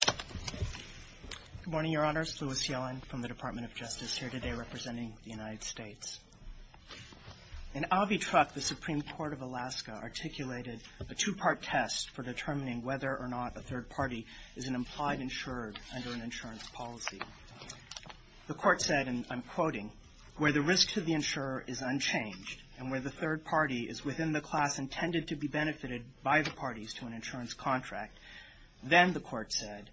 Good morning, Your Honors. Lewis Yellen from the Department of Justice here today representing the United States. In Avitrak, the Supreme Court of Alaska articulated a two-part test for determining whether or not a third party is an implied insurer under an insurance policy. The Court said, and I'm quoting, where the risk to the insurer is unchanged and where the third party is within the class intended to be benefited by the parties to an insurance contract. Then the Court said,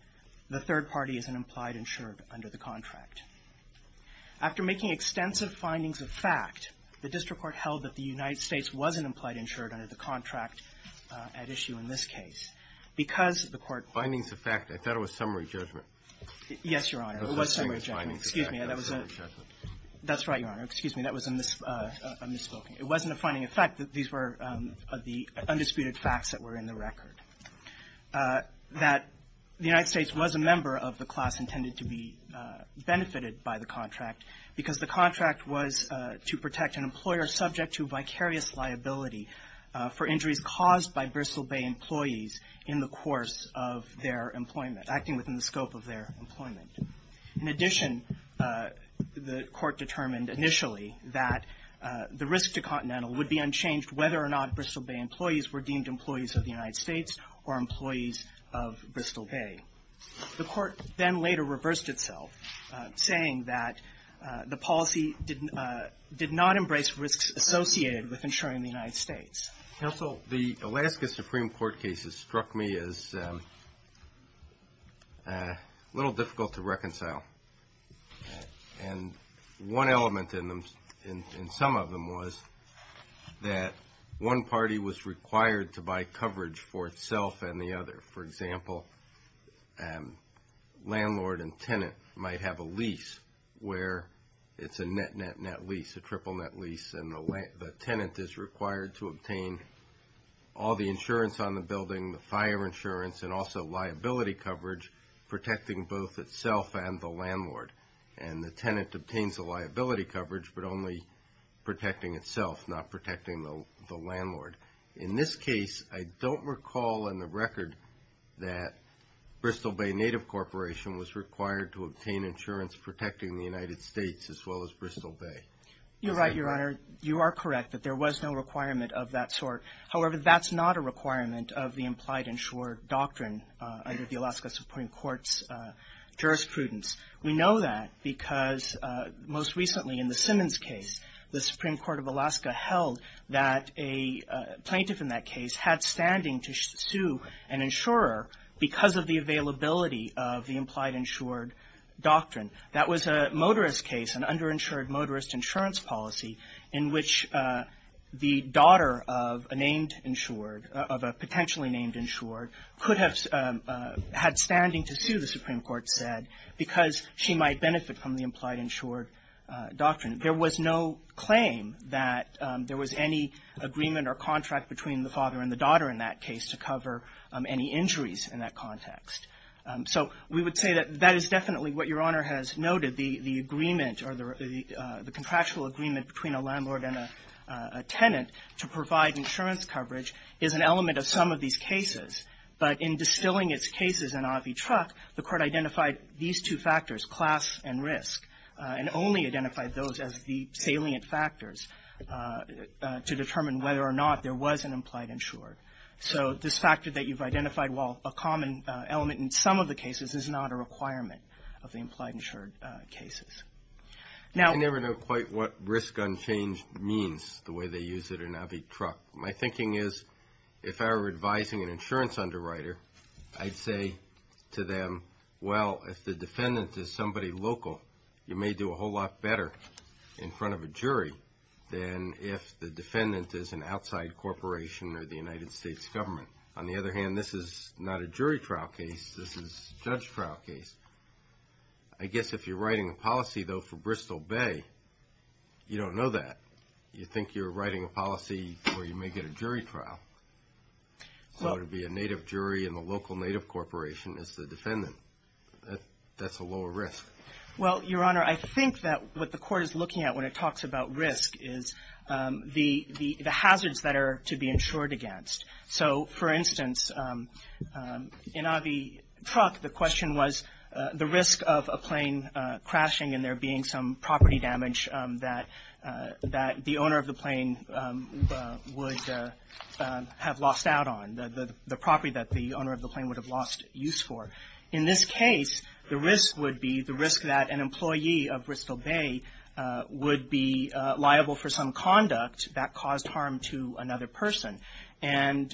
the third party is an implied insurer under the contract. After making extensive findings of fact, the district court held that the United States was an implied insurer under the contract at issue in this case. Because the Court findings of fact, I thought it was summary judgment. Yes, Your Honor. It was summary judgment. I thought it was findings of fact, not summary judgment. That's right, Your Honor. Excuse me. That was a misspoken. It wasn't a finding of fact. These were the undisputed facts that were in the record. That the United States was a member of the class intended to be benefited by the contract because the contract was to protect an employer subject to vicarious liability for injuries caused by Bristol Bay employees in the course of their employment, acting within the scope of their employment. In addition, the Court determined initially that the risk to Continental would be unchanged whether or not Bristol Bay employees were deemed employees of the United States or employees of Bristol Bay. The Court then later reversed itself, saying that the policy did not embrace risks associated with insuring the United States. Counsel, the Alaska Supreme Court cases struck me as a little difficult to reconcile. And one element in some of them was that one party was required to buy coverage for itself and the other. For example, landlord and tenant might have a lease where it's a net-net-net lease, a triple-net lease, and the tenant is required to obtain all the insurance on the building, the fire insurance, and also liability coverage, protecting both itself and the landlord. And the tenant obtains the liability coverage, but only protecting itself, not protecting the landlord. In this case, I don't recall in the record that Bristol Bay Native Corporation was required to obtain insurance protecting the United States as well as Bristol Bay. You're right, Your Honor. You are correct that there was no requirement of that sort. However, that's not a requirement of the implied insured doctrine under the Alaska Supreme Court's jurisprudence. We know that because most recently in the Simmons case, the Supreme Court of Alaska held that a plaintiff in that case had standing to sue an insurer because of the availability of the implied insured doctrine. That was a motorist case, an underinsured motorist insurance policy in which the daughter of a named insured, of a potentially named insured, could have had standing to sue, the Supreme Court said, because she might benefit from the implied insured doctrine. There was no claim that there was any agreement or contract between the father and the daughter in that case to cover any injuries in that context. So we would say that that is definitely what Your Honor has noted, the agreement or the contractual agreement between a landlord and a tenant to provide insurance coverage is an element of some of these cases. But in distilling its cases in Avi Truck, the Court identified these two factors, class and risk, and only identified those as the implied insured. So this factor that you've identified, while a common element in some of the cases, is not a requirement of the implied insured cases. Now we never know quite what risk unchanged means, the way they use it in Avi Truck. My thinking is if I were advising an insurance underwriter, I'd say to them, well, if the defendant is somebody local, you may do a whole lot better in front of a jury than if the defendant is an outside corporation or the United States government. On the other hand, this is not a jury trial case. This is a judge trial case. I guess if you're writing a policy, though, for Bristol Bay, you don't know that. You think you're writing a policy where you may get a jury trial. So it would be a native jury and the local native corporation is the defendant. That's a lower risk. Well, Your Honor, I think that what the Court is looking at when it talks about risk is the hazards that are to be insured against. So, for instance, in Avi Truck, the question was the risk of a plane crashing and there being some property damage that the owner of the plane would have lost out on, the property that the owner of the plane would have lost use for. In this case, the risk would be the risk that an employee of Bristol Bay would be liable for some conduct that caused harm to another person. And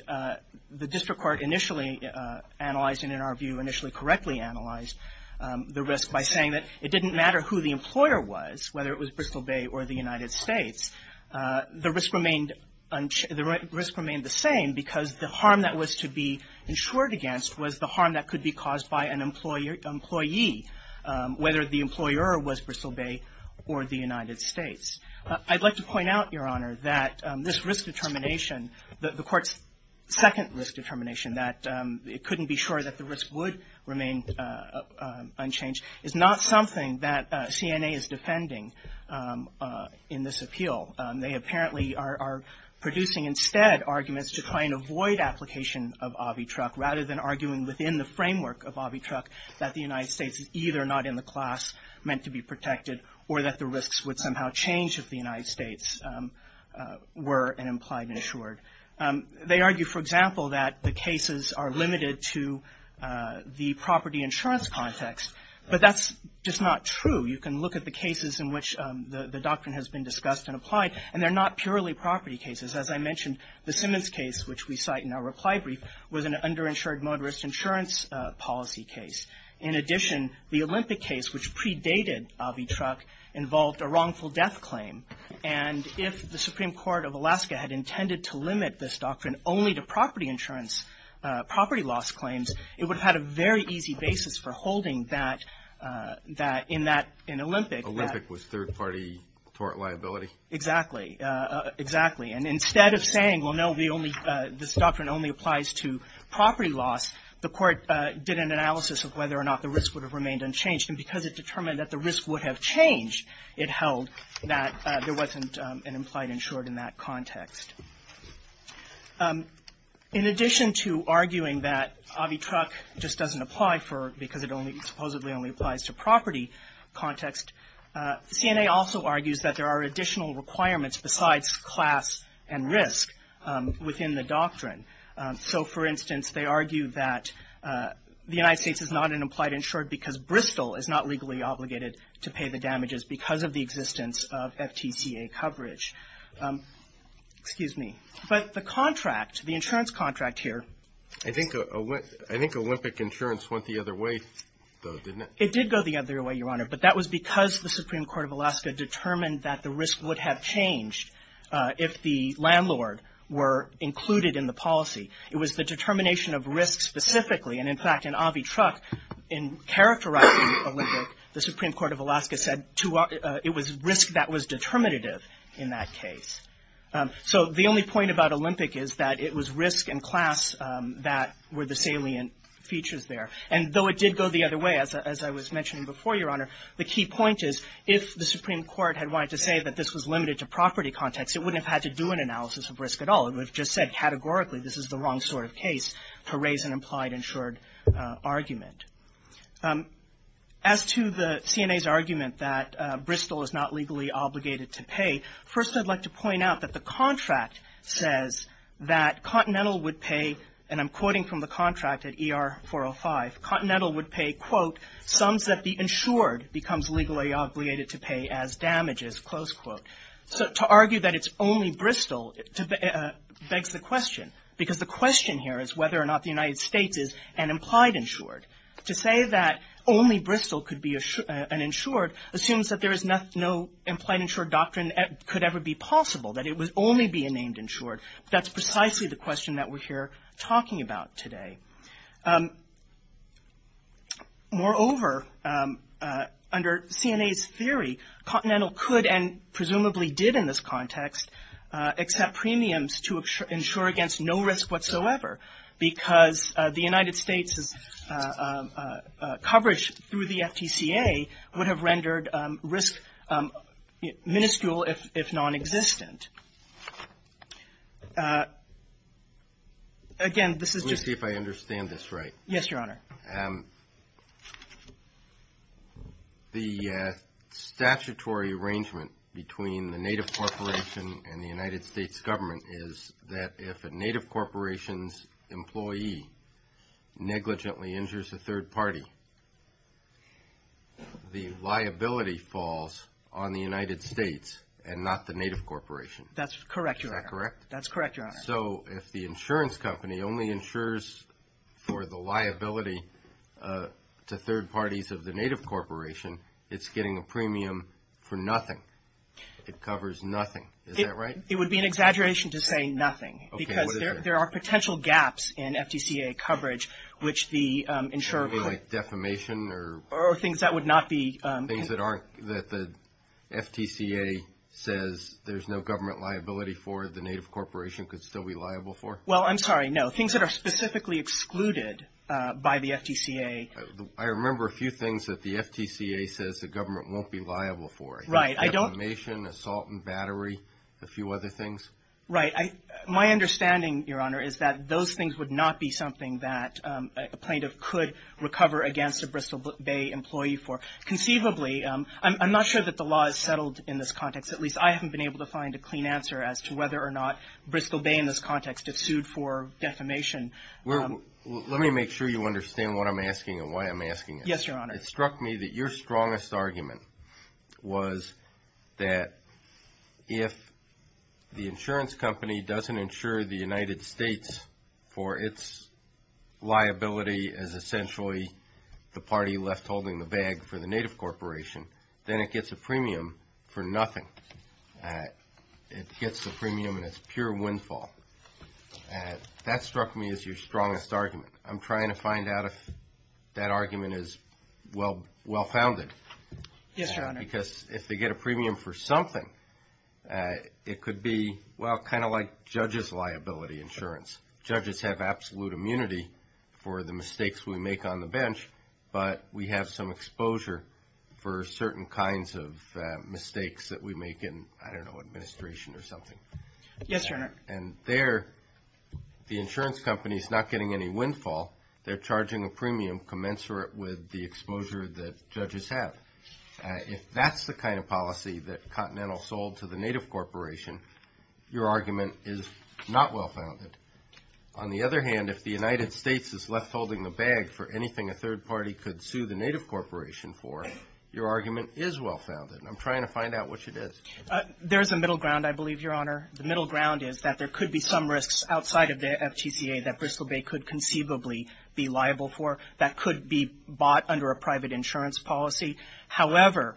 the district court initially analyzed and, in our view, initially correctly analyzed the risk by saying that it didn't matter who the employer was, whether it was Bristol Bay or the United States. The risk remained the same because the harm that was to be insured against was the harm that could be caused by an employee, whether the employer was Bristol Bay or the United States. I'd like to point out, Your Honor, that this risk determination, the Court's second risk determination, that it couldn't be sure that the risk would remain unchanged, is not something that CNA is defending in this appeal. They apparently are producing instead arguments to try and avoid application of Avi Truck rather than arguing within the framework of Avi Truck that the United States is either not in the class meant to be protected or that the risks would somehow change if the United States were an employee insured. They argue, for example, that the cases are limited to the property insurance context, but that's just not true. You can look at the cases in which the doctrine has been discussed and applied, and they're not purely property cases. As I mentioned, the Simmons case, which we cite in our reply brief, was an underinsured motorist insurance policy case. In addition, the Olympic case, which predated Avi Truck, involved a wrongful death claim. And if the Supreme Court of Alaska had intended to limit this doctrine only to property insurance, property loss claims, it would have had a very easy basis for holding that in Olympic. Olympic was third-party tort liability? Exactly. Exactly. And instead of saying, well, no, this doctrine only applies to property loss, the Court did an analysis of whether or not the risk would have remained unchanged. And because it determined that the risk would have changed, it held that there wasn't an implied insured in that context. In addition to arguing that Avi Truck just doesn't apply because it supposedly only applies to property context, CNA also argues that there are additional requirements besides class and risk within the doctrine. So, for instance, they argue that the United States is not an implied insured because Bristol is not legally obligated to pay the damages because of the existence of FTCA coverage. Excuse me. But the contract, the insurance contract here. I think Olympic insurance went the other way, though, didn't it? It did go the other way, Your Honor. But that was because the Supreme Court of Alaska determined that the risk would have changed if the landlord were included in the policy. It was the determination of risk specifically. And, in fact, in Avi Truck, in characterizing Olympic, the Supreme Court of Alaska said it was risk that was determinative in that case. So the only point about Olympic is that it was risk and class that were the salient features there. And though it did go the other way, as I was mentioning before, Your Honor, the key point is if the Supreme Court had wanted to say that this was limited to property context, it wouldn't have had to do an analysis of risk at all. It would have just said categorically this is the wrong sort of case to raise an implied insured argument. As to the CNA's argument that Bristol is not legally obligated to pay, first I'd like to point out that the contract says that Continental would pay, and I'm quoting from the contract at ER 405, Continental would pay, quote, sums that the insured becomes legally obligated to pay as damages, close quote. So to argue that it's only Bristol begs the question, because the question here is whether or not the United States is an implied insured. To say that only Bristol could be an insured assumes that there is no implied insured doctrine that could ever be possible, that it would only be a named insured. That's precisely the question that we're here talking about today. Moreover, under CNA's theory, Continental could and presumably did in this context accept premiums to insure against no risk whatsoever, because the United States' coverage through the FTCA would have rendered risk minuscule if non-existent. Again, this is just to see if I understand this right. Yes, Your Honor. The statutory arrangement between the native corporation and the United States government is that if a native corporation's employee negligently insures a third party, the liability falls on the United States and not the native corporation. That's correct, Your Honor. Is that correct? That's correct, Your Honor. So if the insurance company only insures for the liability to third parties of the native corporation, it's getting a premium for nothing. It covers nothing. Is that right? It would be an exaggeration to say nothing. Okay, what is it? Because there are potential gaps in FTCA coverage, which the insurer could Anything like defamation or Or things that would not be Things that aren't, that the FTCA says there's no government liability for, the native corporation could still be liable for? Well, I'm sorry, no. Things that are specifically excluded by the FTCA I remember a few things that the FTCA says the government won't be liable for. Right, I don't Defamation, assault and battery, a few other things. Right. My understanding, Your Honor, is that those things would not be something that a plaintiff could recover against a Bristol Bay employee for. Conceivably, I'm not sure that the law is settled in this context. At least I haven't been able to find a clean answer as to whether or not Bristol Bay in this context is sued for defamation. Let me make sure you understand what I'm asking and why I'm asking it. Yes, Your Honor. It struck me that your strongest argument was that if the insurance company doesn't insure the United States for its liability as essentially the party left holding the bag for the native corporation, then it gets a premium for nothing. It gets a premium and it's pure windfall. That struck me as your strongest argument. I'm trying to find out if that argument is well-founded. Yes, Your Honor. Because if they get a premium for something, it could be, well, kind of like judges' liability insurance. Judges have absolute immunity for the mistakes we make on the bench, but we have some exposure for certain kinds of mistakes that we make in, I don't know, administration or something. Yes, Your Honor. And there, the insurance company is not getting any windfall. They're charging a premium commensurate with the exposure that judges have. If that's the kind of policy that Continental sold to the native corporation, your argument is not well-founded. On the other hand, if the United States is left holding the bag for anything a third party could sue the native corporation for, your argument is well-founded. I'm trying to find out which it is. There's a middle ground, I believe, Your Honor. The middle ground is that there could be some risks outside of the FTCA that Bristol Bay could conceivably be liable for that could be bought under a private insurance policy. However,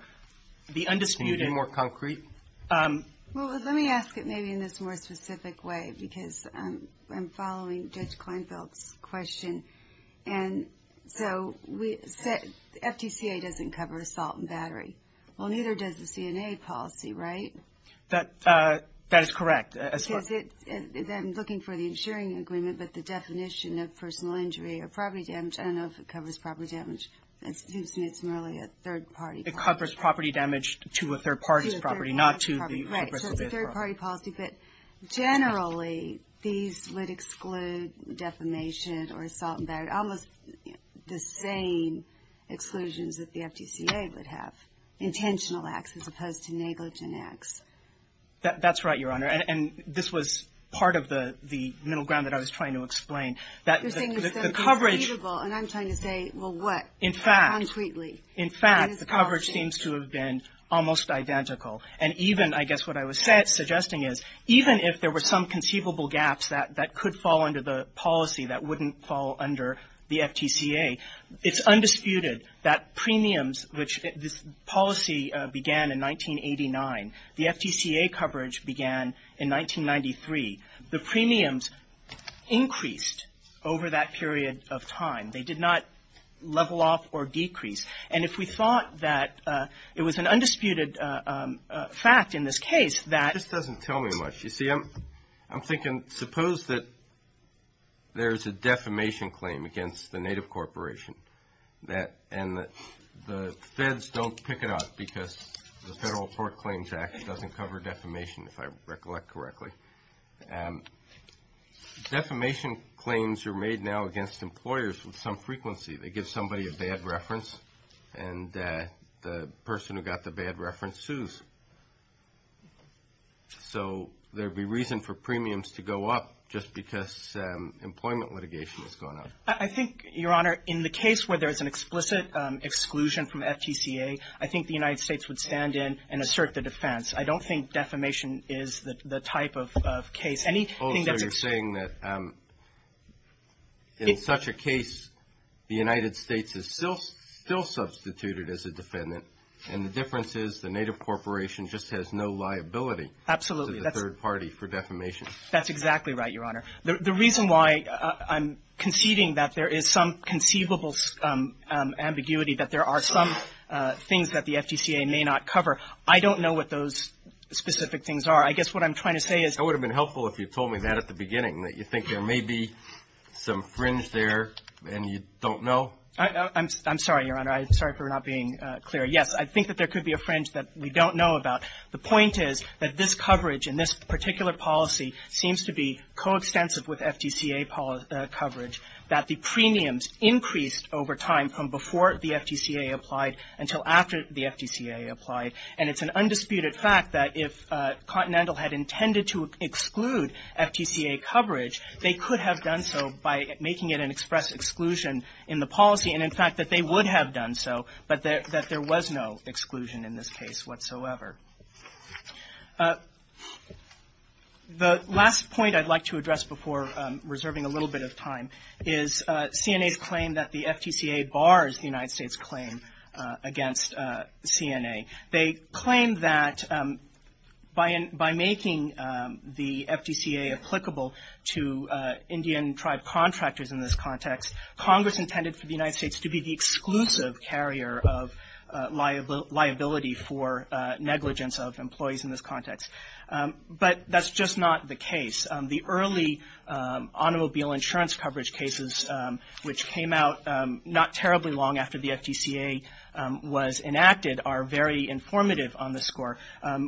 the undisputed – Can you be more concrete? Well, let me ask it maybe in this more specific way because I'm following Judge Klinefeld's question. And so, FTCA doesn't cover assault and battery. Well, neither does the CNA policy, right? That is correct. I'm looking for the insuring agreement, but the definition of personal injury or property damage, I don't know if it covers property damage. It's merely a third-party policy. It covers property damage to a third party's property, not to the – Right, so it's a third-party policy. But generally, these would exclude defamation or assault and battery, almost the same exclusions that the FTCA would have. Intentional acts as opposed to negligent acts. That's right, Your Honor. And this was part of the middle ground that I was trying to explain. You're saying it's conceivable. And I'm trying to say, well, what, concretely? In fact, the coverage seems to have been almost identical. And even, I guess what I was suggesting is, even if there were some conceivable gaps that could fall under the policy that wouldn't fall under the FTCA, it's undisputed that premiums, which this policy began in 1989, the FTCA coverage began in 1993, the premiums increased over that period of time. They did not level off or decrease. And if we thought that it was an undisputed fact in this case that – It just doesn't tell me much. You see, I'm thinking, suppose that there's a defamation claim against the native corporation and the feds don't pick it up because the Federal Court Claims Act doesn't cover defamation, if I recollect correctly. Defamation claims are made now against employers with some frequency. They give somebody a bad reference and the person who got the bad reference sues. So there would be reason for premiums to go up just because employment litigation has gone up. I think, Your Honor, in the case where there's an explicit exclusion from FTCA, I think the United States would stand in and assert the defense. I don't think defamation is the type of case. Also, you're saying that in such a case the United States is still substituted as a defendant and the difference is the native corporation just has no liability to the third party for defamation. Absolutely. That's exactly right, Your Honor. The reason why I'm conceding that there is some conceivable ambiguity, that there are some things that the FTCA may not cover, I don't know what those specific things are. I guess what I'm trying to say is – It would have been helpful if you told me that at the beginning, that you think there may be some fringe there and you don't know. I'm sorry, Your Honor. I'm sorry for not being clear. Yes, I think that there could be a fringe that we don't know about. The point is that this coverage in this particular policy seems to be coextensive with FTCA coverage, that the premiums increased over time from before the FTCA applied until after the FTCA applied. And it's an undisputed fact that if Continental had intended to exclude FTCA coverage, they could have done so by making it an express exclusion in the policy, and in fact that they would have done so, but that there was no exclusion in this case whatsoever. The last point I'd like to address before reserving a little bit of time is CNA's claim that the FTCA bars the United States' claim against CNA. They claim that by making the FTCA applicable to Indian tribe contractors in this context, Congress intended for the United States to be the exclusive carrier of liability for negligence of employees in this context. But that's just not the case. The early automobile insurance coverage cases, which came out not terribly long after the FTCA was enacted, are very informative on the score.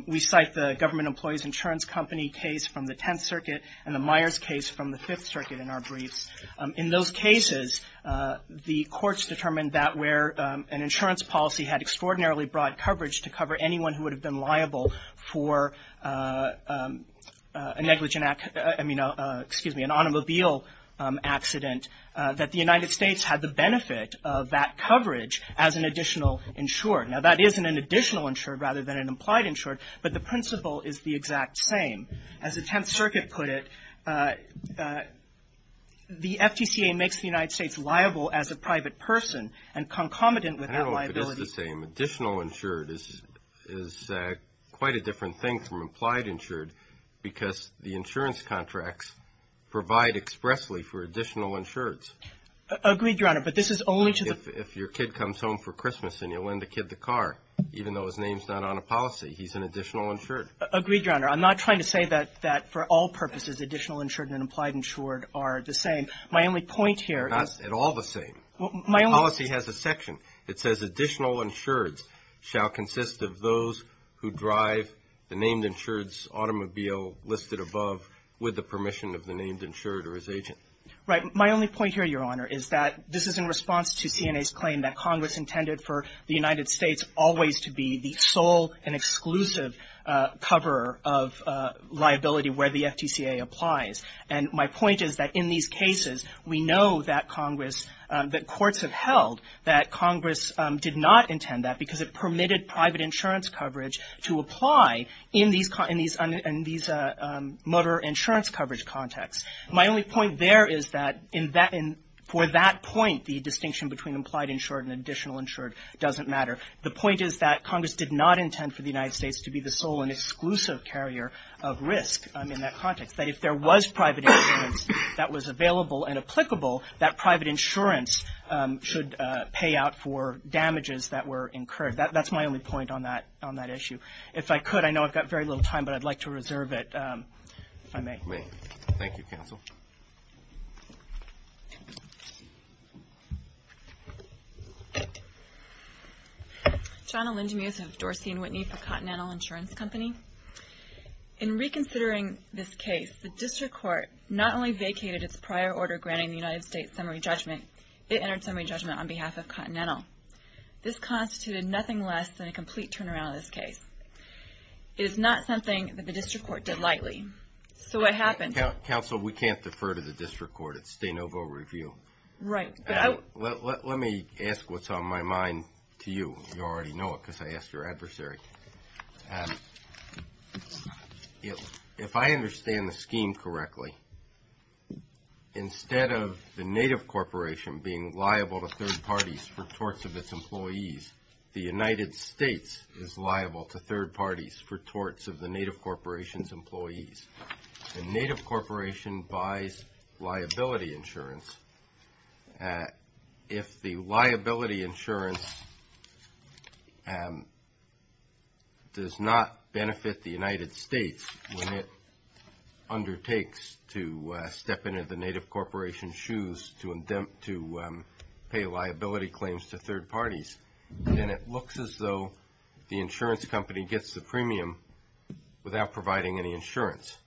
We cite the Government Employees Insurance Company case from the Tenth Circuit and the Myers case from the Fifth Circuit in our briefs. In those cases, the courts determined that where an insurance policy had extraordinarily broad coverage to cover anyone who would have been liable for a negligent, excuse me, an automobile accident, that the United States had the benefit of that coverage as an additional insured. Now, that is an additional insured rather than an implied insured, but the principle is the exact same. As the Tenth Circuit put it, the FTCA makes the United States liable as a private person and concomitant with that liability. I don't know if it is the same. Additional insured is quite a different thing from implied insured because the insurance contracts provide expressly for additional insureds. Agreed, Your Honor, but this is only to the — If your kid comes home for Christmas and you lend the kid the car, even though his name's not on a policy, he's an additional insured. Agreed, Your Honor. I'm not trying to say that for all purposes additional insured and implied insured are the same. My only point here is — Not at all the same. My only — The policy has a section. It says additional insureds shall consist of those who drive the named insured's automobile listed above with the permission of the named insured or his agent. Right. My only point here, Your Honor, is that this is in response to CNA's claim that Congress intended for the United States always to be the sole and exclusive coverer of liability where the FTCA applies. And my point is that in these cases, we know that Congress, that courts have held that Congress did not intend that because it permitted private insurance coverage to apply in these motor insurance coverage contexts. My only point there is that for that point, the distinction between implied insured and additional insured doesn't matter. The point is that Congress did not intend for the United States to be the sole and exclusive carrier of risk in that context. That if there was private insurance that was available and applicable, that private insurance should pay out for damages that were incurred. That's my only point on that issue. If I could, I know I've got very little time, but I'd like to reserve it if I may. Thank you, Counsel. Shana Lindemuth of Dorsey & Whitney for Continental Insurance Company. In reconsidering this case, the district court not only vacated its prior order granting the United States summary judgment, it entered summary judgment on behalf of Continental. This constituted nothing less than a complete turnaround of this case. It is not something that the district court did lightly. So what happened? Counsel, we can't defer to the district court. It's de novo review. Let me ask what's on my mind to you. You already know it because I asked your adversary. If I understand the scheme correctly, instead of the native corporation being liable to third parties for torts of its employees, the United States is liable to third parties for torts of the native corporation's employees. The native corporation buys liability insurance. If the liability insurance does not benefit the United States when it undertakes to step into the native corporation's shoes to pay liability claims to third parties, then it looks as though the insurance company gets the premium without providing any insurance.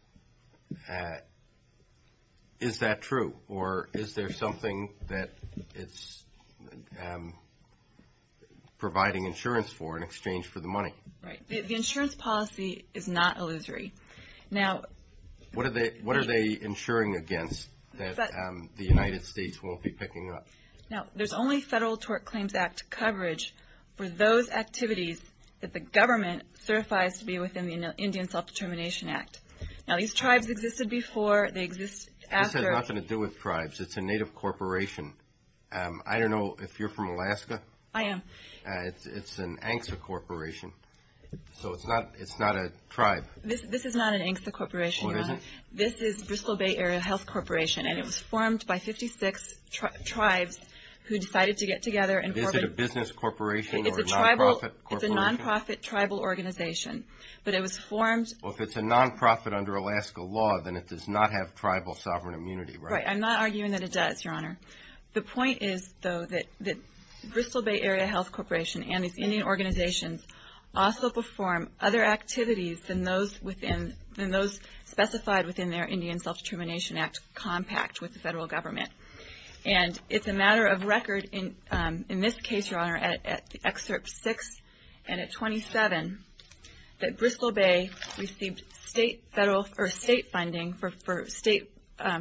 Is that true, or is there something that it's providing insurance for in exchange for the money? Right. The insurance policy is not illusory. What are they insuring against that the United States won't be picking up? Now, there's only Federal Tort Claims Act coverage for those activities that the government certifies to be within the Indian Self-Determination Act. Now, these tribes existed before. This has nothing to do with tribes. It's a native corporation. I don't know if you're from Alaska. I am. It's an ANCSA corporation, so it's not a tribe. This is not an ANCSA corporation, Your Honor. Well, it isn't? This is Bristol Bay Area Health Corporation, and it was formed by 56 tribes who decided to get together and form it. Is it a business corporation or a non-profit corporation? It's a non-profit tribal organization, but it was formed. Well, if it's a non-profit under Alaska law, then it does not have tribal sovereign immunity, right? Right. I'm not arguing that it does, Your Honor. The point is, though, that Bristol Bay Area Health Corporation and its Indian organizations also perform other activities than those within and those specified within their Indian Self-Determination Act compact with the federal government. And it's a matter of record, in this case, Your Honor, at Excerpt 6 and at 27, that Bristol Bay received state funding for state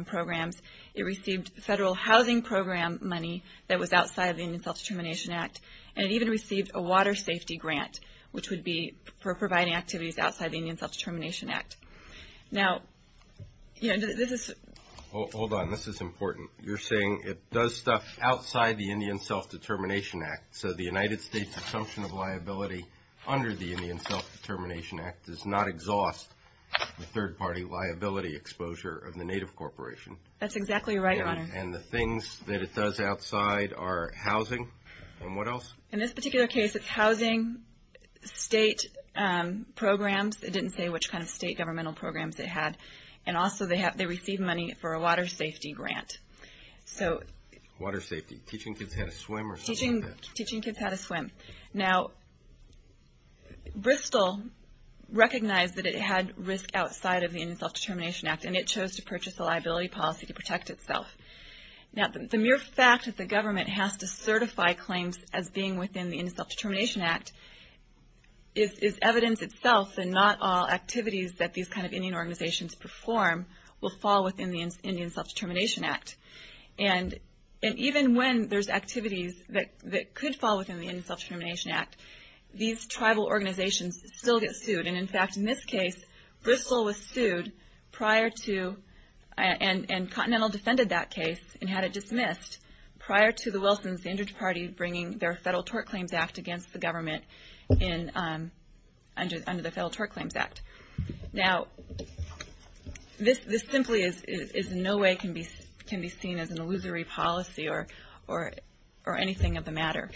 programs. It received federal housing program money that was outside the Indian Self-Determination Act, and it even received a water safety grant, which would be for providing activities outside the Indian Self-Determination Act. Now, you know, this is... Hold on. This is important. You're saying it does stuff outside the Indian Self-Determination Act, so the United States assumption of liability under the Indian Self-Determination Act does not exhaust the third-party liability exposure of the native corporation. That's exactly right, Your Honor. And the things that it does outside are housing, and what else? In this particular case, it's housing, state programs. It didn't say which kind of state governmental programs it had. And also they received money for a water safety grant. Water safety. Teaching kids how to swim or something like that? Teaching kids how to swim. Now, Bristol recognized that it had risk outside of the Indian Self-Determination Act, and it chose to purchase a liability policy to protect itself. Now, the mere fact that the government has to certify claims as being within the Indian Self-Determination Act is evidence itself, and not all activities that these kind of Indian organizations perform will fall within the Indian Self-Determination Act. And even when there's activities that could fall within the Indian Self-Determination Act, these tribal organizations still get sued. And, in fact, in this case, Bristol was sued prior to and Continental defended that case and had it dismissed prior to the Wilsons, the injured party, bringing their Federal Tort Claims Act against the government Now, this simply is in no way can be seen as an illusory policy or anything of the matter.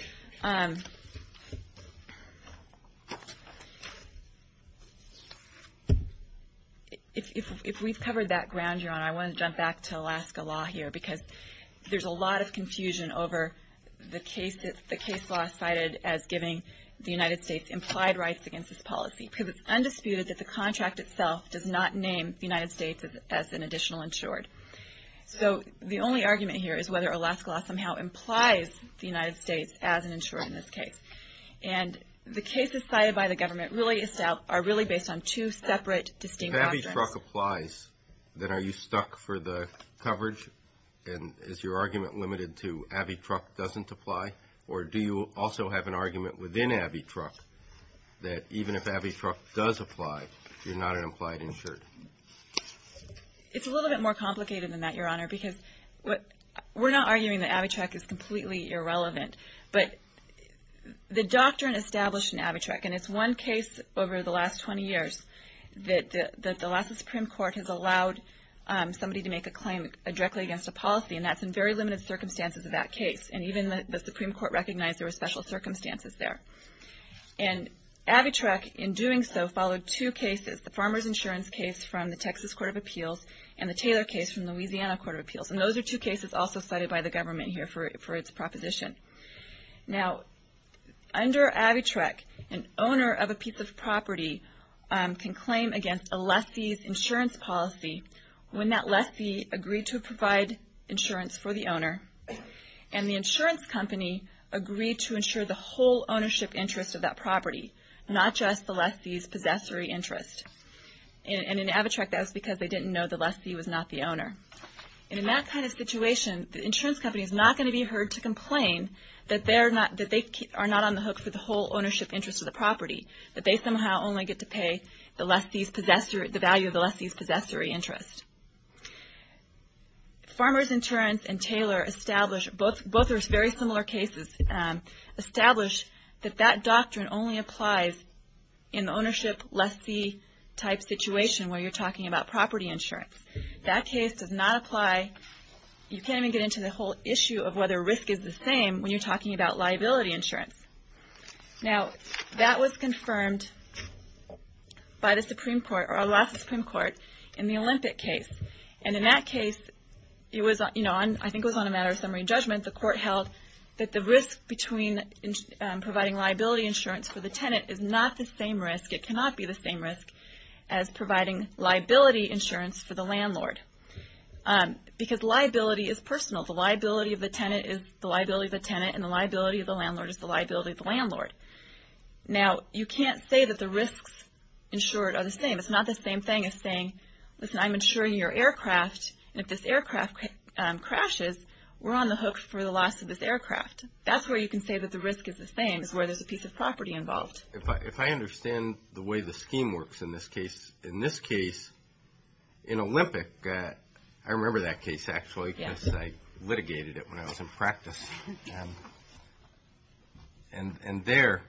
If we've covered that ground, Your Honor, I want to jump back to Alaska law here, because there's a lot of confusion over the case law cited as giving the United States implied rights against this policy, because it's undisputed that the contract itself does not name the United States as an additional insured. So the only argument here is whether Alaska law somehow implies the United States as an insured in this case. And the cases cited by the government are really based on two separate, distinct doctrines. If AvyTruck applies, then are you stuck for the coverage? And is your argument limited to AvyTruck doesn't apply? Or do you also have an argument within AvyTruck that even if AvyTruck does apply, you're not an implied insured? It's a little bit more complicated than that, Your Honor, because we're not arguing that AvyTruck is completely irrelevant. But the doctrine established in AvyTruck, and it's one case over the last 20 years, that the Alaska Supreme Court has allowed somebody to make a claim directly against a policy, and that's in very limited circumstances in that case. And even the Supreme Court recognized there were special circumstances there. And AvyTruck, in doing so, followed two cases, the farmer's insurance case from the Texas Court of Appeals and the Taylor case from the Louisiana Court of Appeals. And those are two cases also cited by the government here for its proposition. Now, under AvyTruck, an owner of a piece of property can claim against a lessee's insurance policy when that lessee agreed to provide insurance for the owner, and the insurance company agreed to insure the whole ownership interest of that property, not just the lessee's possessory interest. And in AvyTruck, that was because they didn't know the lessee was not the owner. And in that kind of situation, the insurance company is not going to be heard to complain that they are not on the hook for the whole ownership interest of the property, that they somehow only get to pay the value of the lessee's possessory interest. Farmer's Insurance and Taylor established, both are very similar cases, established that that doctrine only applies in the ownership lessee type situation where you're talking about property insurance. That case does not apply. You can't even get into the whole issue of whether risk is the same when you're talking about liability insurance. Now, that was confirmed by the Supreme Court, or the last Supreme Court, in the Olympic case. And in that case, I think it was on a matter of summary and judgment, the court held that the risk between providing liability insurance for the tenant is not the same risk, it cannot be the same risk as providing liability insurance for the landlord. Because liability is personal. And the liability of the landlord is the liability of the landlord. Now, you can't say that the risks insured are the same. It's not the same thing as saying, listen, I'm insuring your aircraft, and if this aircraft crashes, we're on the hook for the loss of this aircraft. That's where you can say that the risk is the same, is where there's a piece of property involved. If I understand the way the scheme works in this case, in this case, in Olympic, I remember that case, actually, because I litigated it when I was in practice. And there,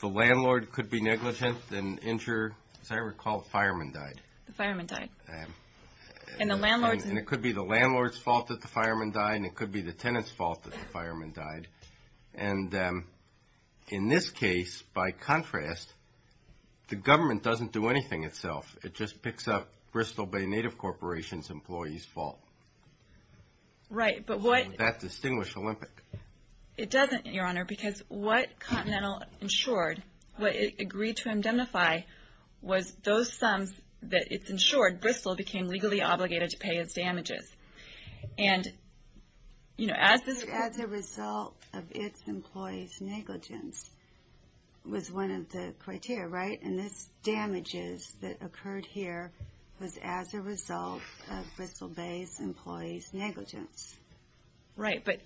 the landlord could be negligent and insure, as I recall, the fireman died. The fireman died. And it could be the landlord's fault that the fireman died, and it could be the tenant's fault that the fireman died. And in this case, by contrast, the government doesn't do anything itself. It just picks up Bristol Bay Native Corporation's employees' fault. Would that distinguish Olympic? It doesn't, Your Honor, because what Continental insured, what it agreed to indemnify, was those sums that it insured, Bristol became legally obligated to pay its damages. And, you know, as a result of its employees' negligence was one of the criteria, right? And this damages that occurred here was as a result of Bristol Bay's employees' negligence. Right, but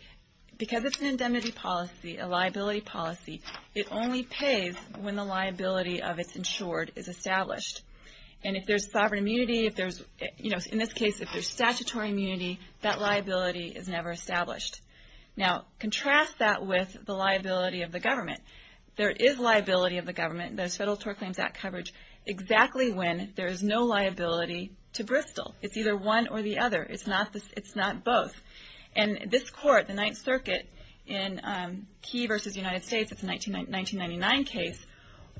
because it's an indemnity policy, a liability policy, it only pays when the liability of its insured is established. And if there's sovereign immunity, if there's, you know, in this case, if there's statutory immunity, that liability is never established. Now, contrast that with the liability of the government. There is liability of the government. There's Federal Tort Claims Act coverage exactly when there is no liability to Bristol. It's either one or the other. It's not both. And this court, the Ninth Circuit, in Key v. United States, it's a 1999 case,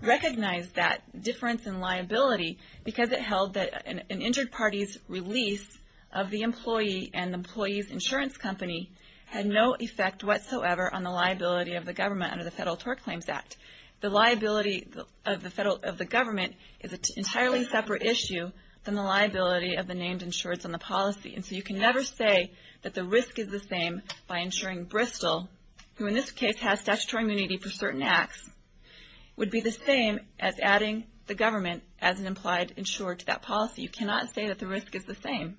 recognized that difference in liability because it held that an injured party's release of the employee and the employee's insurance company had no effect whatsoever on the liability of the government under the Federal Tort Claims Act. The liability of the government is an entirely separate issue than the liability of the named insureds on the policy. And so you can never say that the risk is the same by insuring Bristol, who in this case has statutory immunity for certain acts, would be the same as adding the government as an implied insured to that policy. You cannot say that the risk is the same.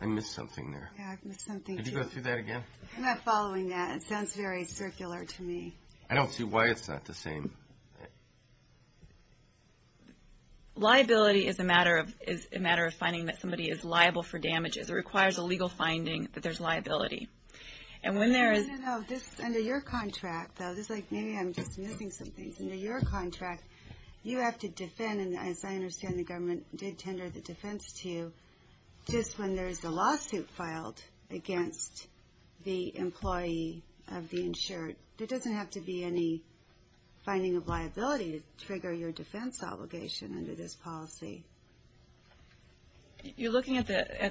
I missed something there. Yeah, I missed something too. Could you go through that again? I'm not following that. It sounds very circular to me. I don't see why it's not the same. Liability is a matter of finding that somebody is liable for damages. It requires a legal finding that there's liability. And when there is... No, no, no. Under your contract, though, this is like maybe I'm just missing something. Under your contract, you have to defend, and as I understand, the government did tender the defense to you, just when there's a lawsuit filed against the employee of the insured, there doesn't have to be any finding of liability to trigger your defense obligation under this policy. You're looking at the...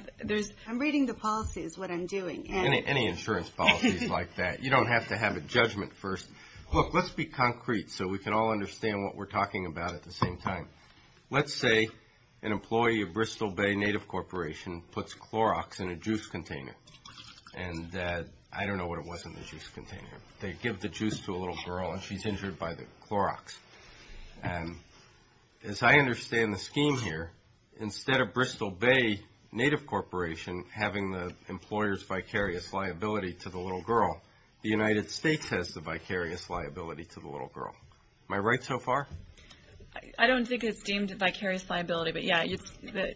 I'm reading the policies, what I'm doing. Any insurance policy is like that. You don't have to have a judgment first. Look, let's be concrete so we can all understand what we're talking about at the same time. Let's say an employee of Bristol Bay Native Corporation puts Clorox in a juice container. And I don't know what it was in the juice container. They give the juice to a little girl, and she's injured by the Clorox. As I understand the scheme here, instead of Bristol Bay Native Corporation having the employer's vicarious liability to the little girl, the United States has the vicarious liability to the little girl. Am I right so far? I don't think it's deemed vicarious liability.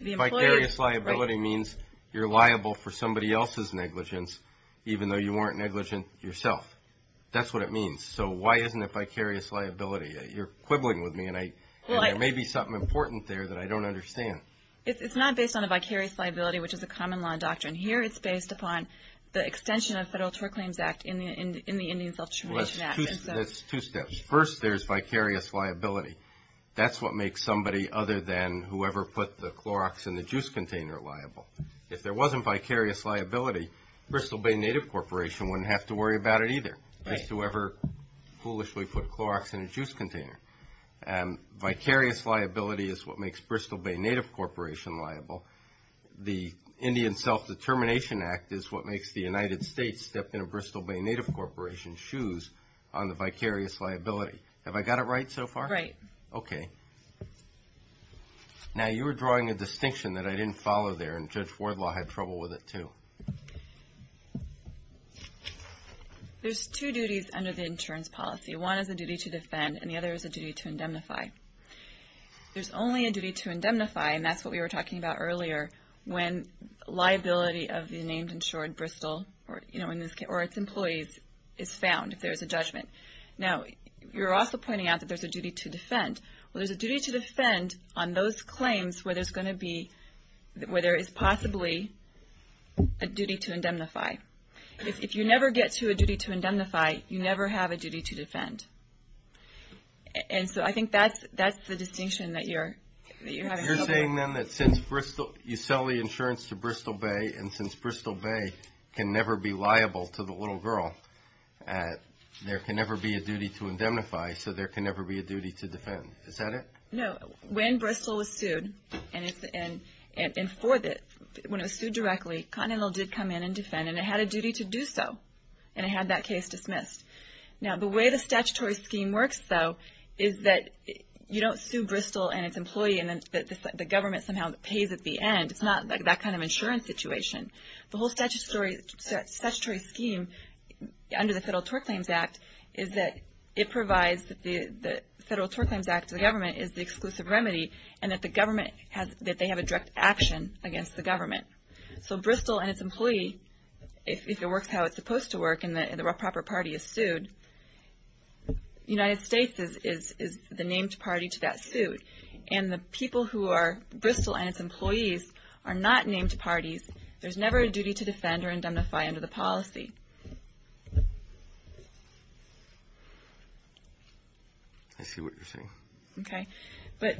Vicarious liability means you're liable for somebody else's negligence, even though you weren't negligent yourself. That's what it means. So why isn't it vicarious liability? You're quibbling with me, and there may be something important there that I don't understand. It's not based on a vicarious liability, which is a common law doctrine. Here it's based upon the extension of Federal Tort Claims Act in the Indian Self-Determination Act. That's two steps. First, there's vicarious liability. That's what makes somebody other than whoever put the Clorox in the juice container liable. If there wasn't vicarious liability, Bristol Bay Native Corporation wouldn't have to worry about it either, just whoever foolishly put Clorox in a juice container. Vicarious liability is what makes Bristol Bay Native Corporation liable. The Indian Self-Determination Act is what makes the United States step in a Bristol Bay Native Corporation's shoes on the vicarious liability. Have I got it right so far? Right. Okay. Now, you were drawing a distinction that I didn't follow there, and Judge Wardlaw had trouble with it too. There's two duties under the insurance policy. One is a duty to defend, and the other is a duty to indemnify. There's only a duty to indemnify, and that's what we were talking about earlier, when liability of the named insured Bristol or its employees is found if there is a judgment. Now, you're also pointing out that there's a duty to defend. Well, there's a duty to defend on those claims where there is possibly a duty to indemnify. If you never get to a duty to indemnify, you never have a duty to defend. And so I think that's the distinction that you're having trouble with. You're saying then that since you sell the insurance to Bristol Bay and since Bristol Bay can never be liable to the little girl, there can never be a duty to indemnify, so there can never be a duty to defend. Is that it? No. When Bristol was sued and for this, when it was sued directly, Continental did come in and defend, and it had a duty to do so, and it had that case dismissed. Now, the way the statutory scheme works, though, is that you don't sue Bristol and its employee and the government somehow pays at the end. It's not that kind of insurance situation. The whole statutory scheme under the Federal Tort Claims Act is that it provides the Federal Tort Claims Act to the government as the exclusive remedy and that they have a direct action against the government. So Bristol and its employee, if it works how it's supposed to work and the proper party is sued, the United States is the named party to that suit, and the people who are Bristol and its employees are not named parties. There's never a duty to defend or indemnify under the policy. I see what you're saying. Okay. But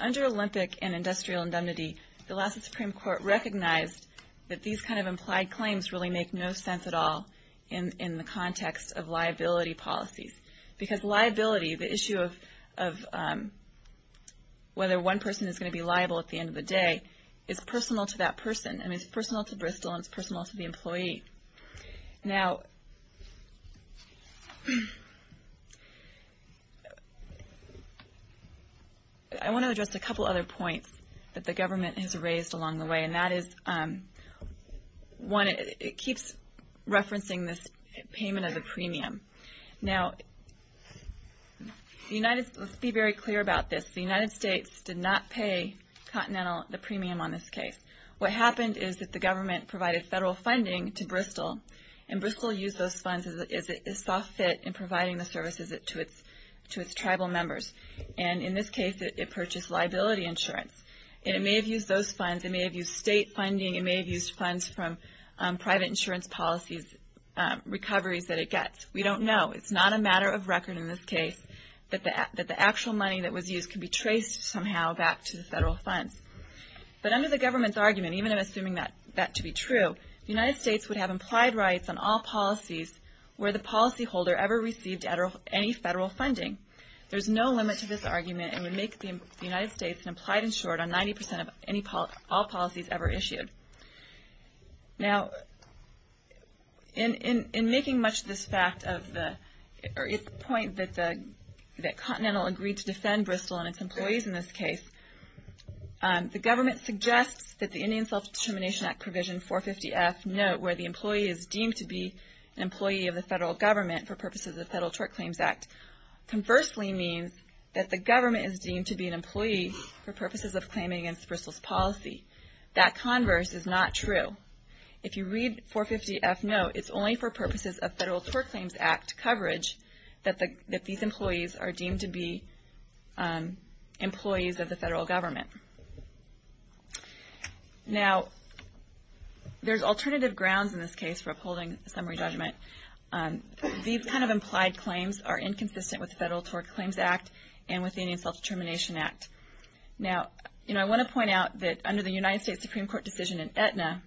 under Olympic and Industrial Indemnity, the Alaska Supreme Court recognized that these kind of implied claims really make no sense at all in the context of liability policies because liability, the issue of whether one person is going to be liable at the end of the day, is personal to that person. I mean, it's personal to Bristol and it's personal to the employee. Now, I want to address a couple other points that the government has raised along the way, and that is, one, it keeps referencing this payment as a premium. Now, let's be very clear about this. The United States did not pay Continental the premium on this case. What happened is that the government provided federal funding to Bristol, and Bristol used those funds as it saw fit in providing the services to its tribal members. And in this case, it purchased liability insurance. And it may have used those funds, it may have used state funding, it may have used funds from private insurance policies, recoveries that it gets. We don't know. It's not a matter of record in this case that the actual money that was used could be traced somehow back to the federal funds. But under the government's argument, even assuming that to be true, the United States would have implied rights on all policies where the policyholder ever received any federal funding. There's no limit to this argument, and would make the United States an implied insured on 90% of all policies ever issued. Now, in making much of this point that Continental agreed to defend Bristol and its employees in this case, the government suggests that the Indian Self-Determination Act Provision 450F note where the employee is deemed to be an employee of the federal government for purposes of the Federal Tort Claims Act, conversely means that the government is deemed to be an employee for purposes of claiming against Bristol's policy. That converse is not true. If you read 450F note, it's only for purposes of Federal Tort Claims Act coverage that these employees are deemed to be employees of the federal government. Now, there's alternative grounds in this case for upholding summary judgment. These kind of implied claims are inconsistent with the Federal Tort Claims Act and with the Indian Self-Determination Act. Now, I want to point out that under the United States Supreme Court decision in Aetna,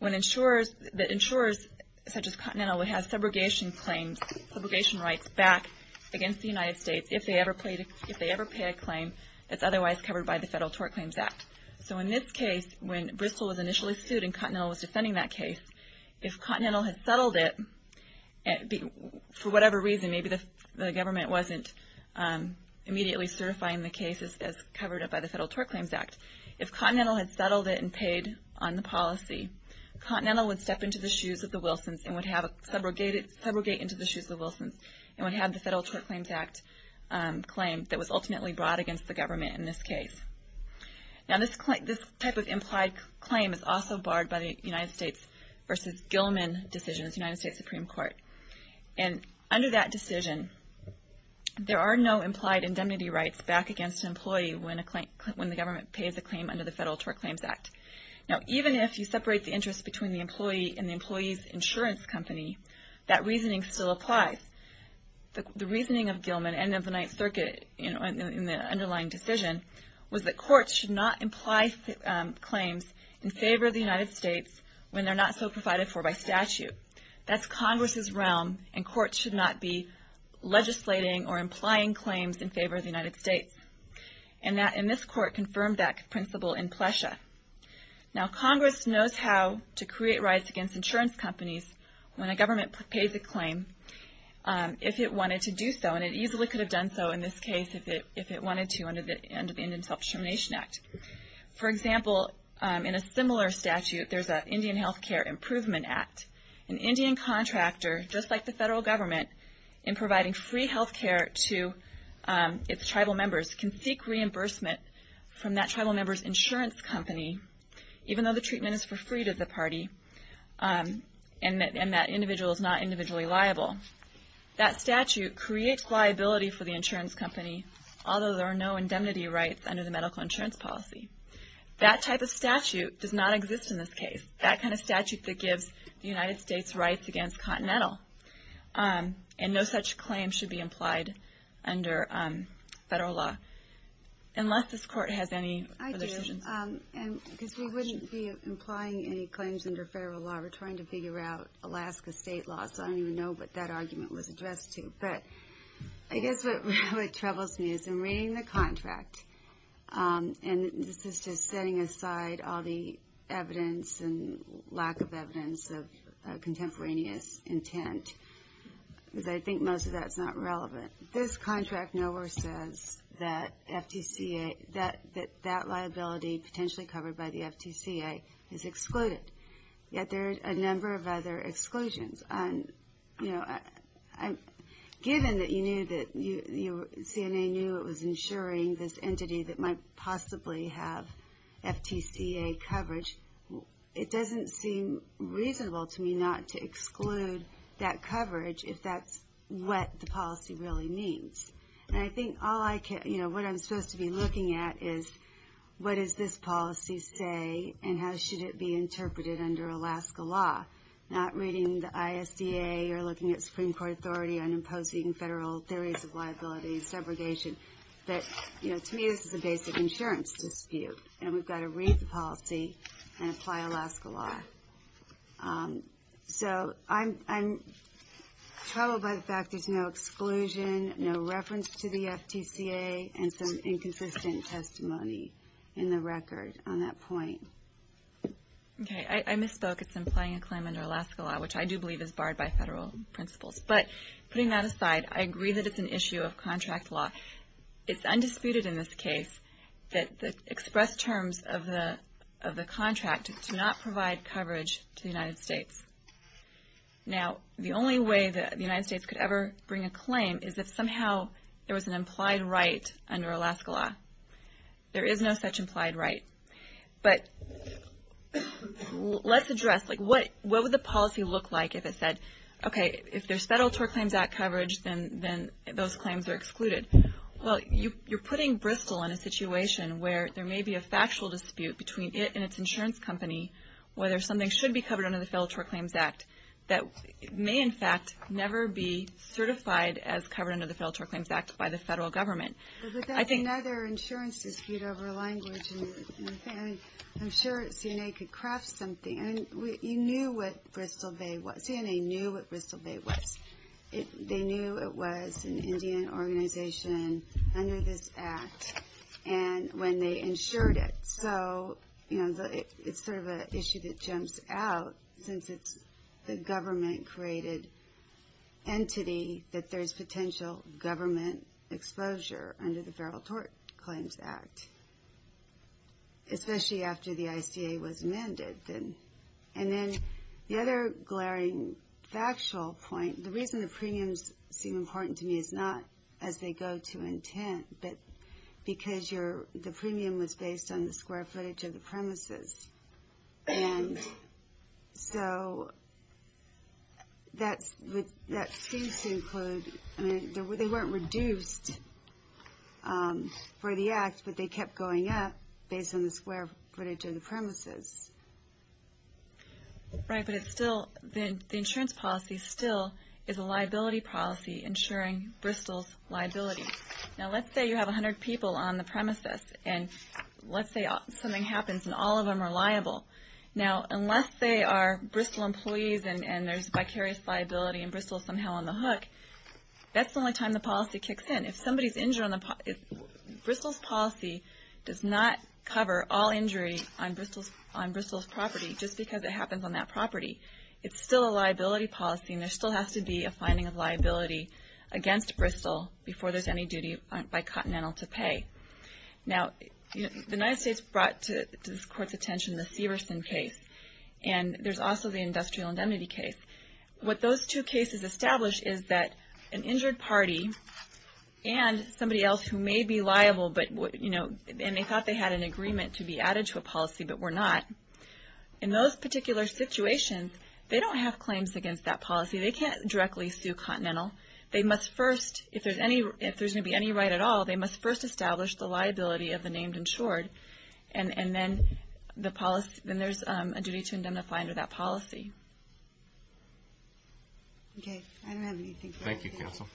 that insurers such as Continental would have subrogation claims, subrogation rights back against the United States if they ever pay a claim that's otherwise covered by the Federal Tort Claims Act. So in this case, when Bristol was initially sued and Continental was defending that case, if Continental had settled it, for whatever reason, maybe the government wasn't immediately certifying the case as covered by the Federal Tort Claims Act, if Continental had settled it and paid on the policy, Continental would step into the shoes of the Wilsons and would subrogate into the shoes of the Wilsons and would have the Federal Tort Claims Act claim that was ultimately brought against the government in this case. Now, this type of implied claim is also barred by the United States v. Gilman decision of the United States Supreme Court. And under that decision, there are no implied indemnity rights back against an employee when the government pays a claim under the Federal Tort Claims Act. Now, even if you separate the interest between the employee and the employee's insurance company, that reasoning still applies. The reasoning of Gilman and of the Ninth Circuit in the underlying decision was that courts should not imply claims in favor of the United States when they're not so provided for by statute. That's Congress's realm, and courts should not be legislating or implying claims in favor of the United States. And this court confirmed that principle in Plesha. Now, Congress knows how to create rights against insurance companies when a government pays a claim if it wanted to do so, and it easily could have done so in this case if it wanted to under the Indian Self-Determination Act. For example, in a similar statute, there's an Indian Health Care Improvement Act. An Indian contractor, just like the Federal Government, in providing free health care to its tribal members, can seek reimbursement from that tribal member's insurance company, even though the treatment is for free to the party and that individual is not individually liable. That statute creates liability for the insurance company, although there are no indemnity rights under the medical insurance policy. That type of statute does not exist in this case, that kind of statute that gives the United States rights against Continental. And no such claim should be implied under federal law, unless this court has any other decisions. I do, because we wouldn't be implying any claims under federal law. We're trying to figure out Alaska state law, so I don't even know what that argument was addressed to. But I guess what really troubles me is in reading the contract, and this is just setting aside all the evidence and lack of evidence of contemporaneous intent, because I think most of that's not relevant. This contract nowhere says that that liability potentially covered by the FTCA is excluded. Yet there are a number of other exclusions. Given that you knew that CNA knew it was insuring this entity that might possibly have FTCA coverage, it doesn't seem reasonable to me not to exclude that coverage if that's what the policy really means. And I think what I'm supposed to be looking at is, what does this policy say, and how should it be interpreted under Alaska law? Not reading the ISDA or looking at Supreme Court authority on imposing federal theories of liability and segregation. To me, this is a basic insurance dispute, and we've got to read the policy and apply Alaska law. So I'm troubled by the fact there's no exclusion, no reference to the FTCA, and some inconsistent testimony in the record on that point. I misspoke. It's implying a claim under Alaska law, which I do believe is barred by federal principles. But putting that aside, I agree that it's an issue of contract law. It's undisputed in this case that the express terms of the contract do not provide coverage to the United States. Now, the only way the United States could ever bring a claim is if somehow there was an implied right under Alaska law. There is no such implied right. But let's address, what would the policy look like if it said, okay, if there's Federal Tort Claims Act coverage, then those claims are excluded. Well, you're putting Bristol in a situation where there may be a factual dispute between it and its insurance company whether something should be covered under the Federal Tort Claims Act that may, in fact, never be certified as covered under the Federal Tort Claims Act by the federal government. But that's another insurance dispute over language. I'm sure CNA could craft something. You knew what Bristol Bay was. CNA knew what Bristol Bay was. They knew it was an Indian organization under this act when they insured it. So it's sort of an issue that jumps out since it's the government-created entity that there's potential government exposure under the Federal Tort Claims Act, especially after the ICA was amended. And then the other glaring factual point, the reason the premiums seem important to me is not as they go to intent, but because the premium was based on the square footage of the premises. And so that seems to include, I mean, they weren't reduced for the act, but they kept going up based on the square footage of the premises. Right, but it's still, the insurance policy still is a liability policy insuring Bristol's liability. Now, let's say you have 100 people on the premises, and let's say something happens and all of them are liable. Now, unless they are Bristol employees and there's vicarious liability and Bristol's somehow on the hook, that's the only time the policy kicks in. If somebody's injured on the, Bristol's policy does not cover all injury on Bristol's property just because it happens on that property. It's still a liability policy, and there still has to be a finding of liability against Bristol before there's any duty by Continental to pay. Now, the United States brought to this court's attention the Severson case, and there's also the industrial indemnity case. What those two cases establish is that an injured party and somebody else who may be liable, and they thought they had an agreement to be added to a policy but were not, in those particular situations, they don't have claims against that policy. They can't directly sue Continental. They must first, if there's going to be any right at all, they must first establish the liability of the named insured, and then there's a duty to indemnify under that policy. Okay, I don't have anything further. Thank you, counsel.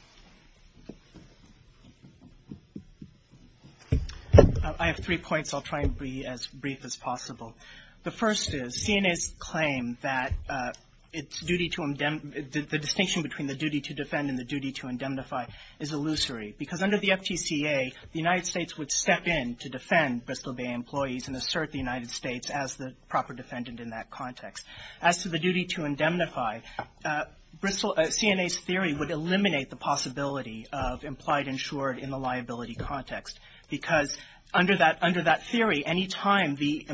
I have three points. I'll try and be as brief as possible. The first is CNA's claim that the distinction between the duty to defend and the duty to indemnify is illusory because under the FTCA, the United States would step in to defend Bristol Bay employees and assert the United States as the proper defendant in that context. As to the duty to indemnify, CNA's theory would eliminate the possibility of implied insured in the liability context because under that theory, any time the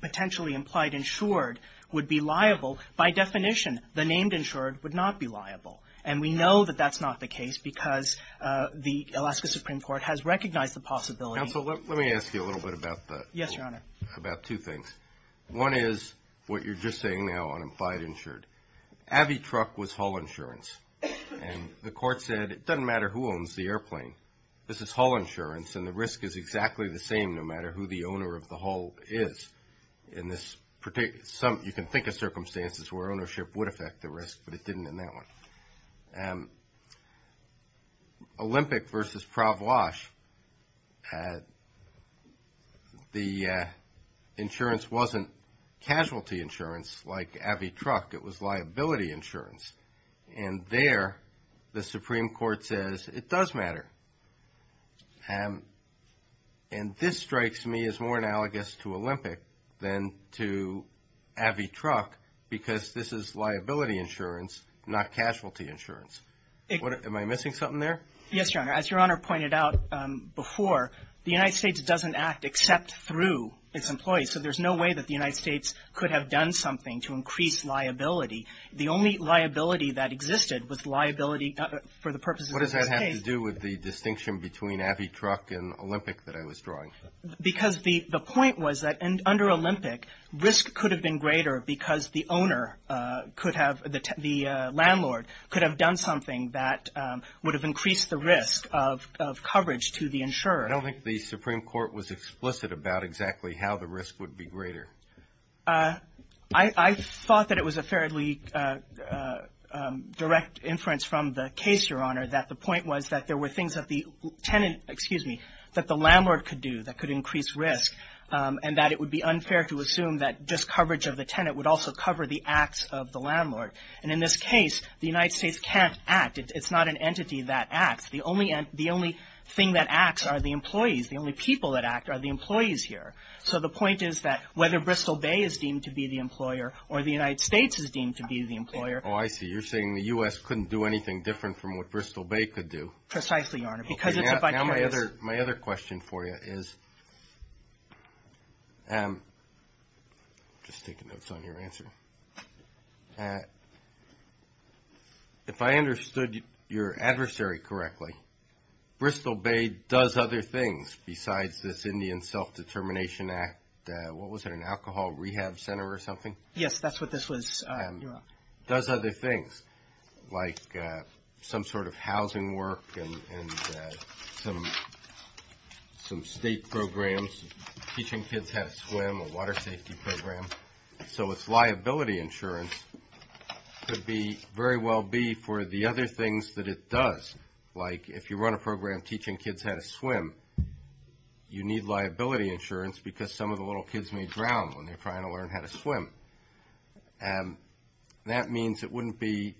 potentially implied insured would be liable, by definition, the named insured would not be liable, and we know that that's not the case because the Alaska Supreme Court has recognized the possibility. Counsel, let me ask you a little bit about that. Yes, Your Honor. About two things. One is what you're just saying now on implied insured. AVI truck was haul insurance, and the court said, it doesn't matter who owns the airplane. This is haul insurance, and the risk is exactly the same no matter who the owner of the haul is. In this particular, you can think of circumstances where ownership would affect the risk, but it didn't in that one. Olympic versus Pravlosh, the insurance wasn't casualty insurance like AVI truck. It was liability insurance, and there the Supreme Court says, it does matter, and this strikes me as more analogous to Olympic than to AVI truck because this is liability insurance, not casualty insurance. Am I missing something there? Yes, Your Honor. As Your Honor pointed out before, the United States doesn't act except through its employees, so there's no way that the United States could have done something to increase liability. The only liability that existed was liability for the purposes of this case. What does that have to do with the distinction between AVI truck and Olympic that I was drawing? Because the point was that under Olympic, risk could have been greater because the owner could have, the landlord could have done something that would have increased the risk of coverage to the insurer. I don't think the Supreme Court was explicit about exactly how the risk would be greater. I thought that it was a fairly direct inference from the case, Your Honor, that the point was that there were things that the tenant, excuse me, that the landlord could do that could increase risk and that it would be unfair to assume that just coverage of the tenant would also cover the acts of the landlord, and in this case, the United States can't act. It's not an entity that acts. The only thing that acts are the employees. The only people that act are the employees here, so the point is that whether Bristol Bay is deemed to be the employer or the United States is deemed to be the employer. Oh, I see. You're saying the U.S. couldn't do anything different from what Bristol Bay could do. Precisely, Your Honor, because it's a vicarious. My other question for you is, just taking notes on your answer. If I understood your adversary correctly, Bristol Bay does other things besides this Indian Self-Determination Act, what was it, an alcohol rehab center or something? Yes, that's what this was, Your Honor. Does other things, like some sort of housing work and some state programs, teaching kids how to swim, a water safety program, so its liability insurance could very well be for the other things that it does, like if you run a program teaching kids how to swim, you need liability insurance because some of the little kids may drown when they're trying to learn how to swim. That means it wouldn't be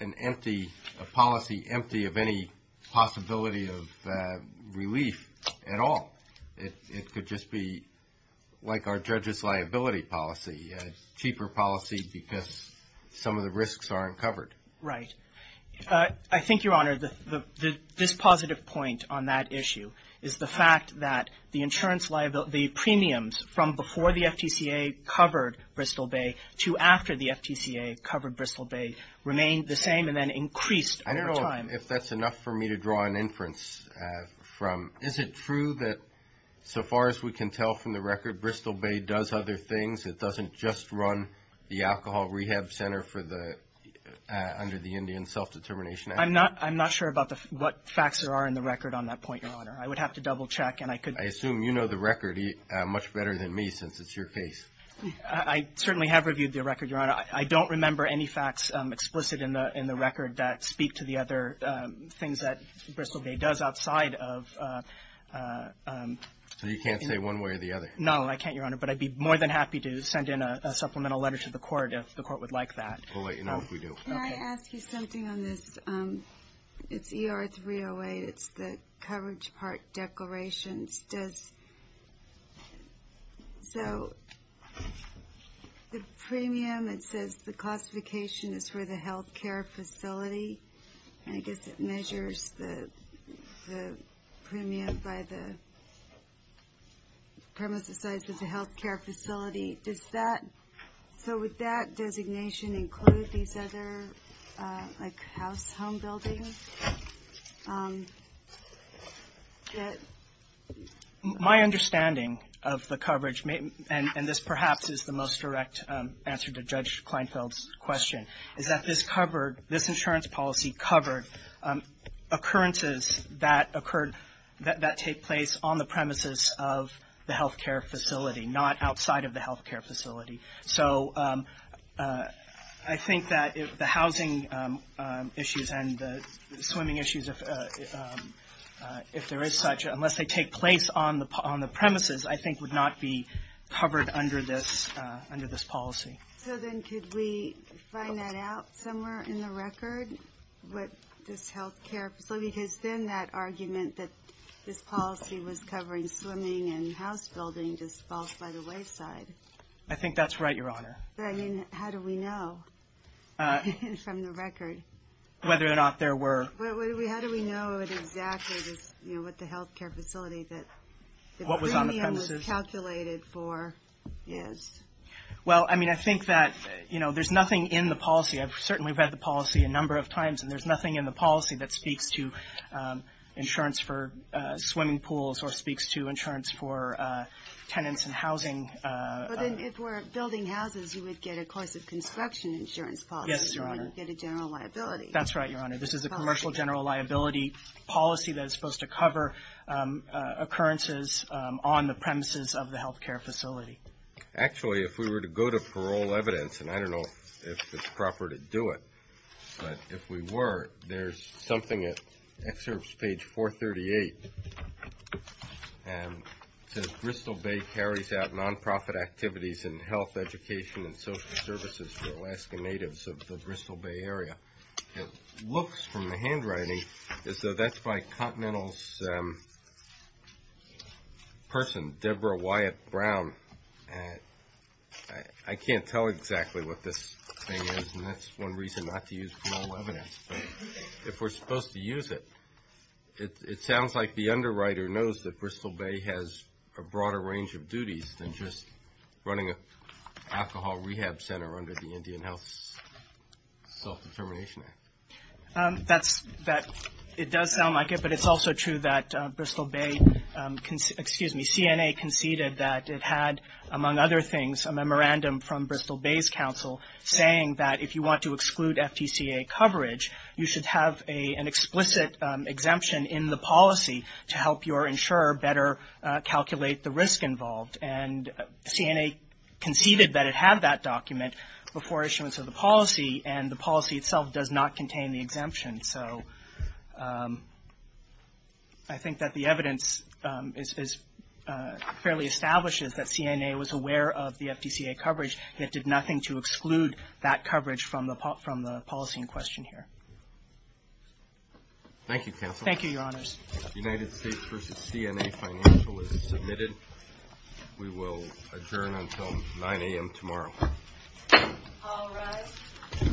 a policy empty of any possibility of relief at all. It could just be like our judge's liability policy, a cheaper policy because some of the risks aren't covered. Right. I think, Your Honor, this positive point on that issue is the fact that the premiums from before the FTCA covered Bristol Bay to after the FTCA covered Bristol Bay remained the same and then increased over time. I don't know if that's enough for me to draw an inference from. Is it true that, so far as we can tell from the record, Bristol Bay does other things? It doesn't just run the alcohol rehab center under the Indian Self-Determination Act? I'm not sure about what facts there are in the record on that point, Your Honor. I would have to double check and I could... I assume you know the record much better than me since it's your case. I certainly have reviewed the record, Your Honor. I don't remember any facts explicit in the record that speak to the other things that Bristol Bay does outside of... So you can't say one way or the other? No, I can't, Your Honor, but I'd be more than happy to send in a supplemental letter to the court if the court would like that. We'll let you know if we do. Can I ask you something on this? It's ER 308. It's the coverage part declarations. Does... So... The premium, it says the classification is for the health care facility. I guess it measures the premium by the... Premises size of the health care facility. Does that... include these other, like, house, home buildings? My understanding of the coverage, and this perhaps is the most direct answer to Judge Kleinfeld's question, is that this covered... this insurance policy covered occurrences that occurred... that take place on the premises of the health care facility, not outside of the health care facility. So... I think that the housing issues and the swimming issues, if there is such, unless they take place on the premises, I think would not be covered under this policy. So then could we find that out somewhere in the record? What this health care facility, because then that argument that this policy was covering swimming and house building just falls by the wayside. I think that's right, Your Honor. But I mean, how do we know from the record? Whether or not there were... How do we know exactly what the health care facility that... What was on the premises? The premium was calculated for is? Well, I mean, I think that, you know, there's nothing in the policy. I've certainly read the policy a number of times, and there's nothing in the policy that speaks to insurance for swimming pools or speaks to insurance for tenants and housing. But then if we're building houses, you would get a cost of construction insurance policy. Yes, Your Honor. You wouldn't get a general liability. That's right, Your Honor. This is a commercial general liability policy that is supposed to cover occurrences on the premises of the health care facility. Actually, if we were to go to parole evidence, and I don't know if it's proper to do it, but if we were, there's something at excerpt page 438. It says, Bristol Bay carries out nonprofit activities in health, education, and social services for Alaska natives of the Bristol Bay area. It looks from the handwriting as though that's by Continental's person, Deborah Wyatt Brown. I can't tell exactly what this thing is, and that's one reason not to use parole evidence. If we're supposed to use it, it sounds like the underwriter knows that Bristol Bay has a broader range of duties than just running an alcohol rehab center under the Indian Health Self-Determination Act. It does sound like it, but it's also true that Bristol Bay, excuse me, CNA conceded that it had, among other things, a memorandum from Bristol Bay's council saying that if you want to exclude FTCA coverage, you should have an explicit exemption in the policy to help your insurer better calculate the risk involved. And CNA conceded that it had that document before issuance of the policy, and so I think that the evidence fairly establishes that CNA was aware of the FTCA coverage, yet did nothing to exclude that coverage from the policy in question here. Thank you, counsel. Thank you, your honors. The United States v. CNA financial is submitted. We will adjourn until 9 a.m. tomorrow. All rise.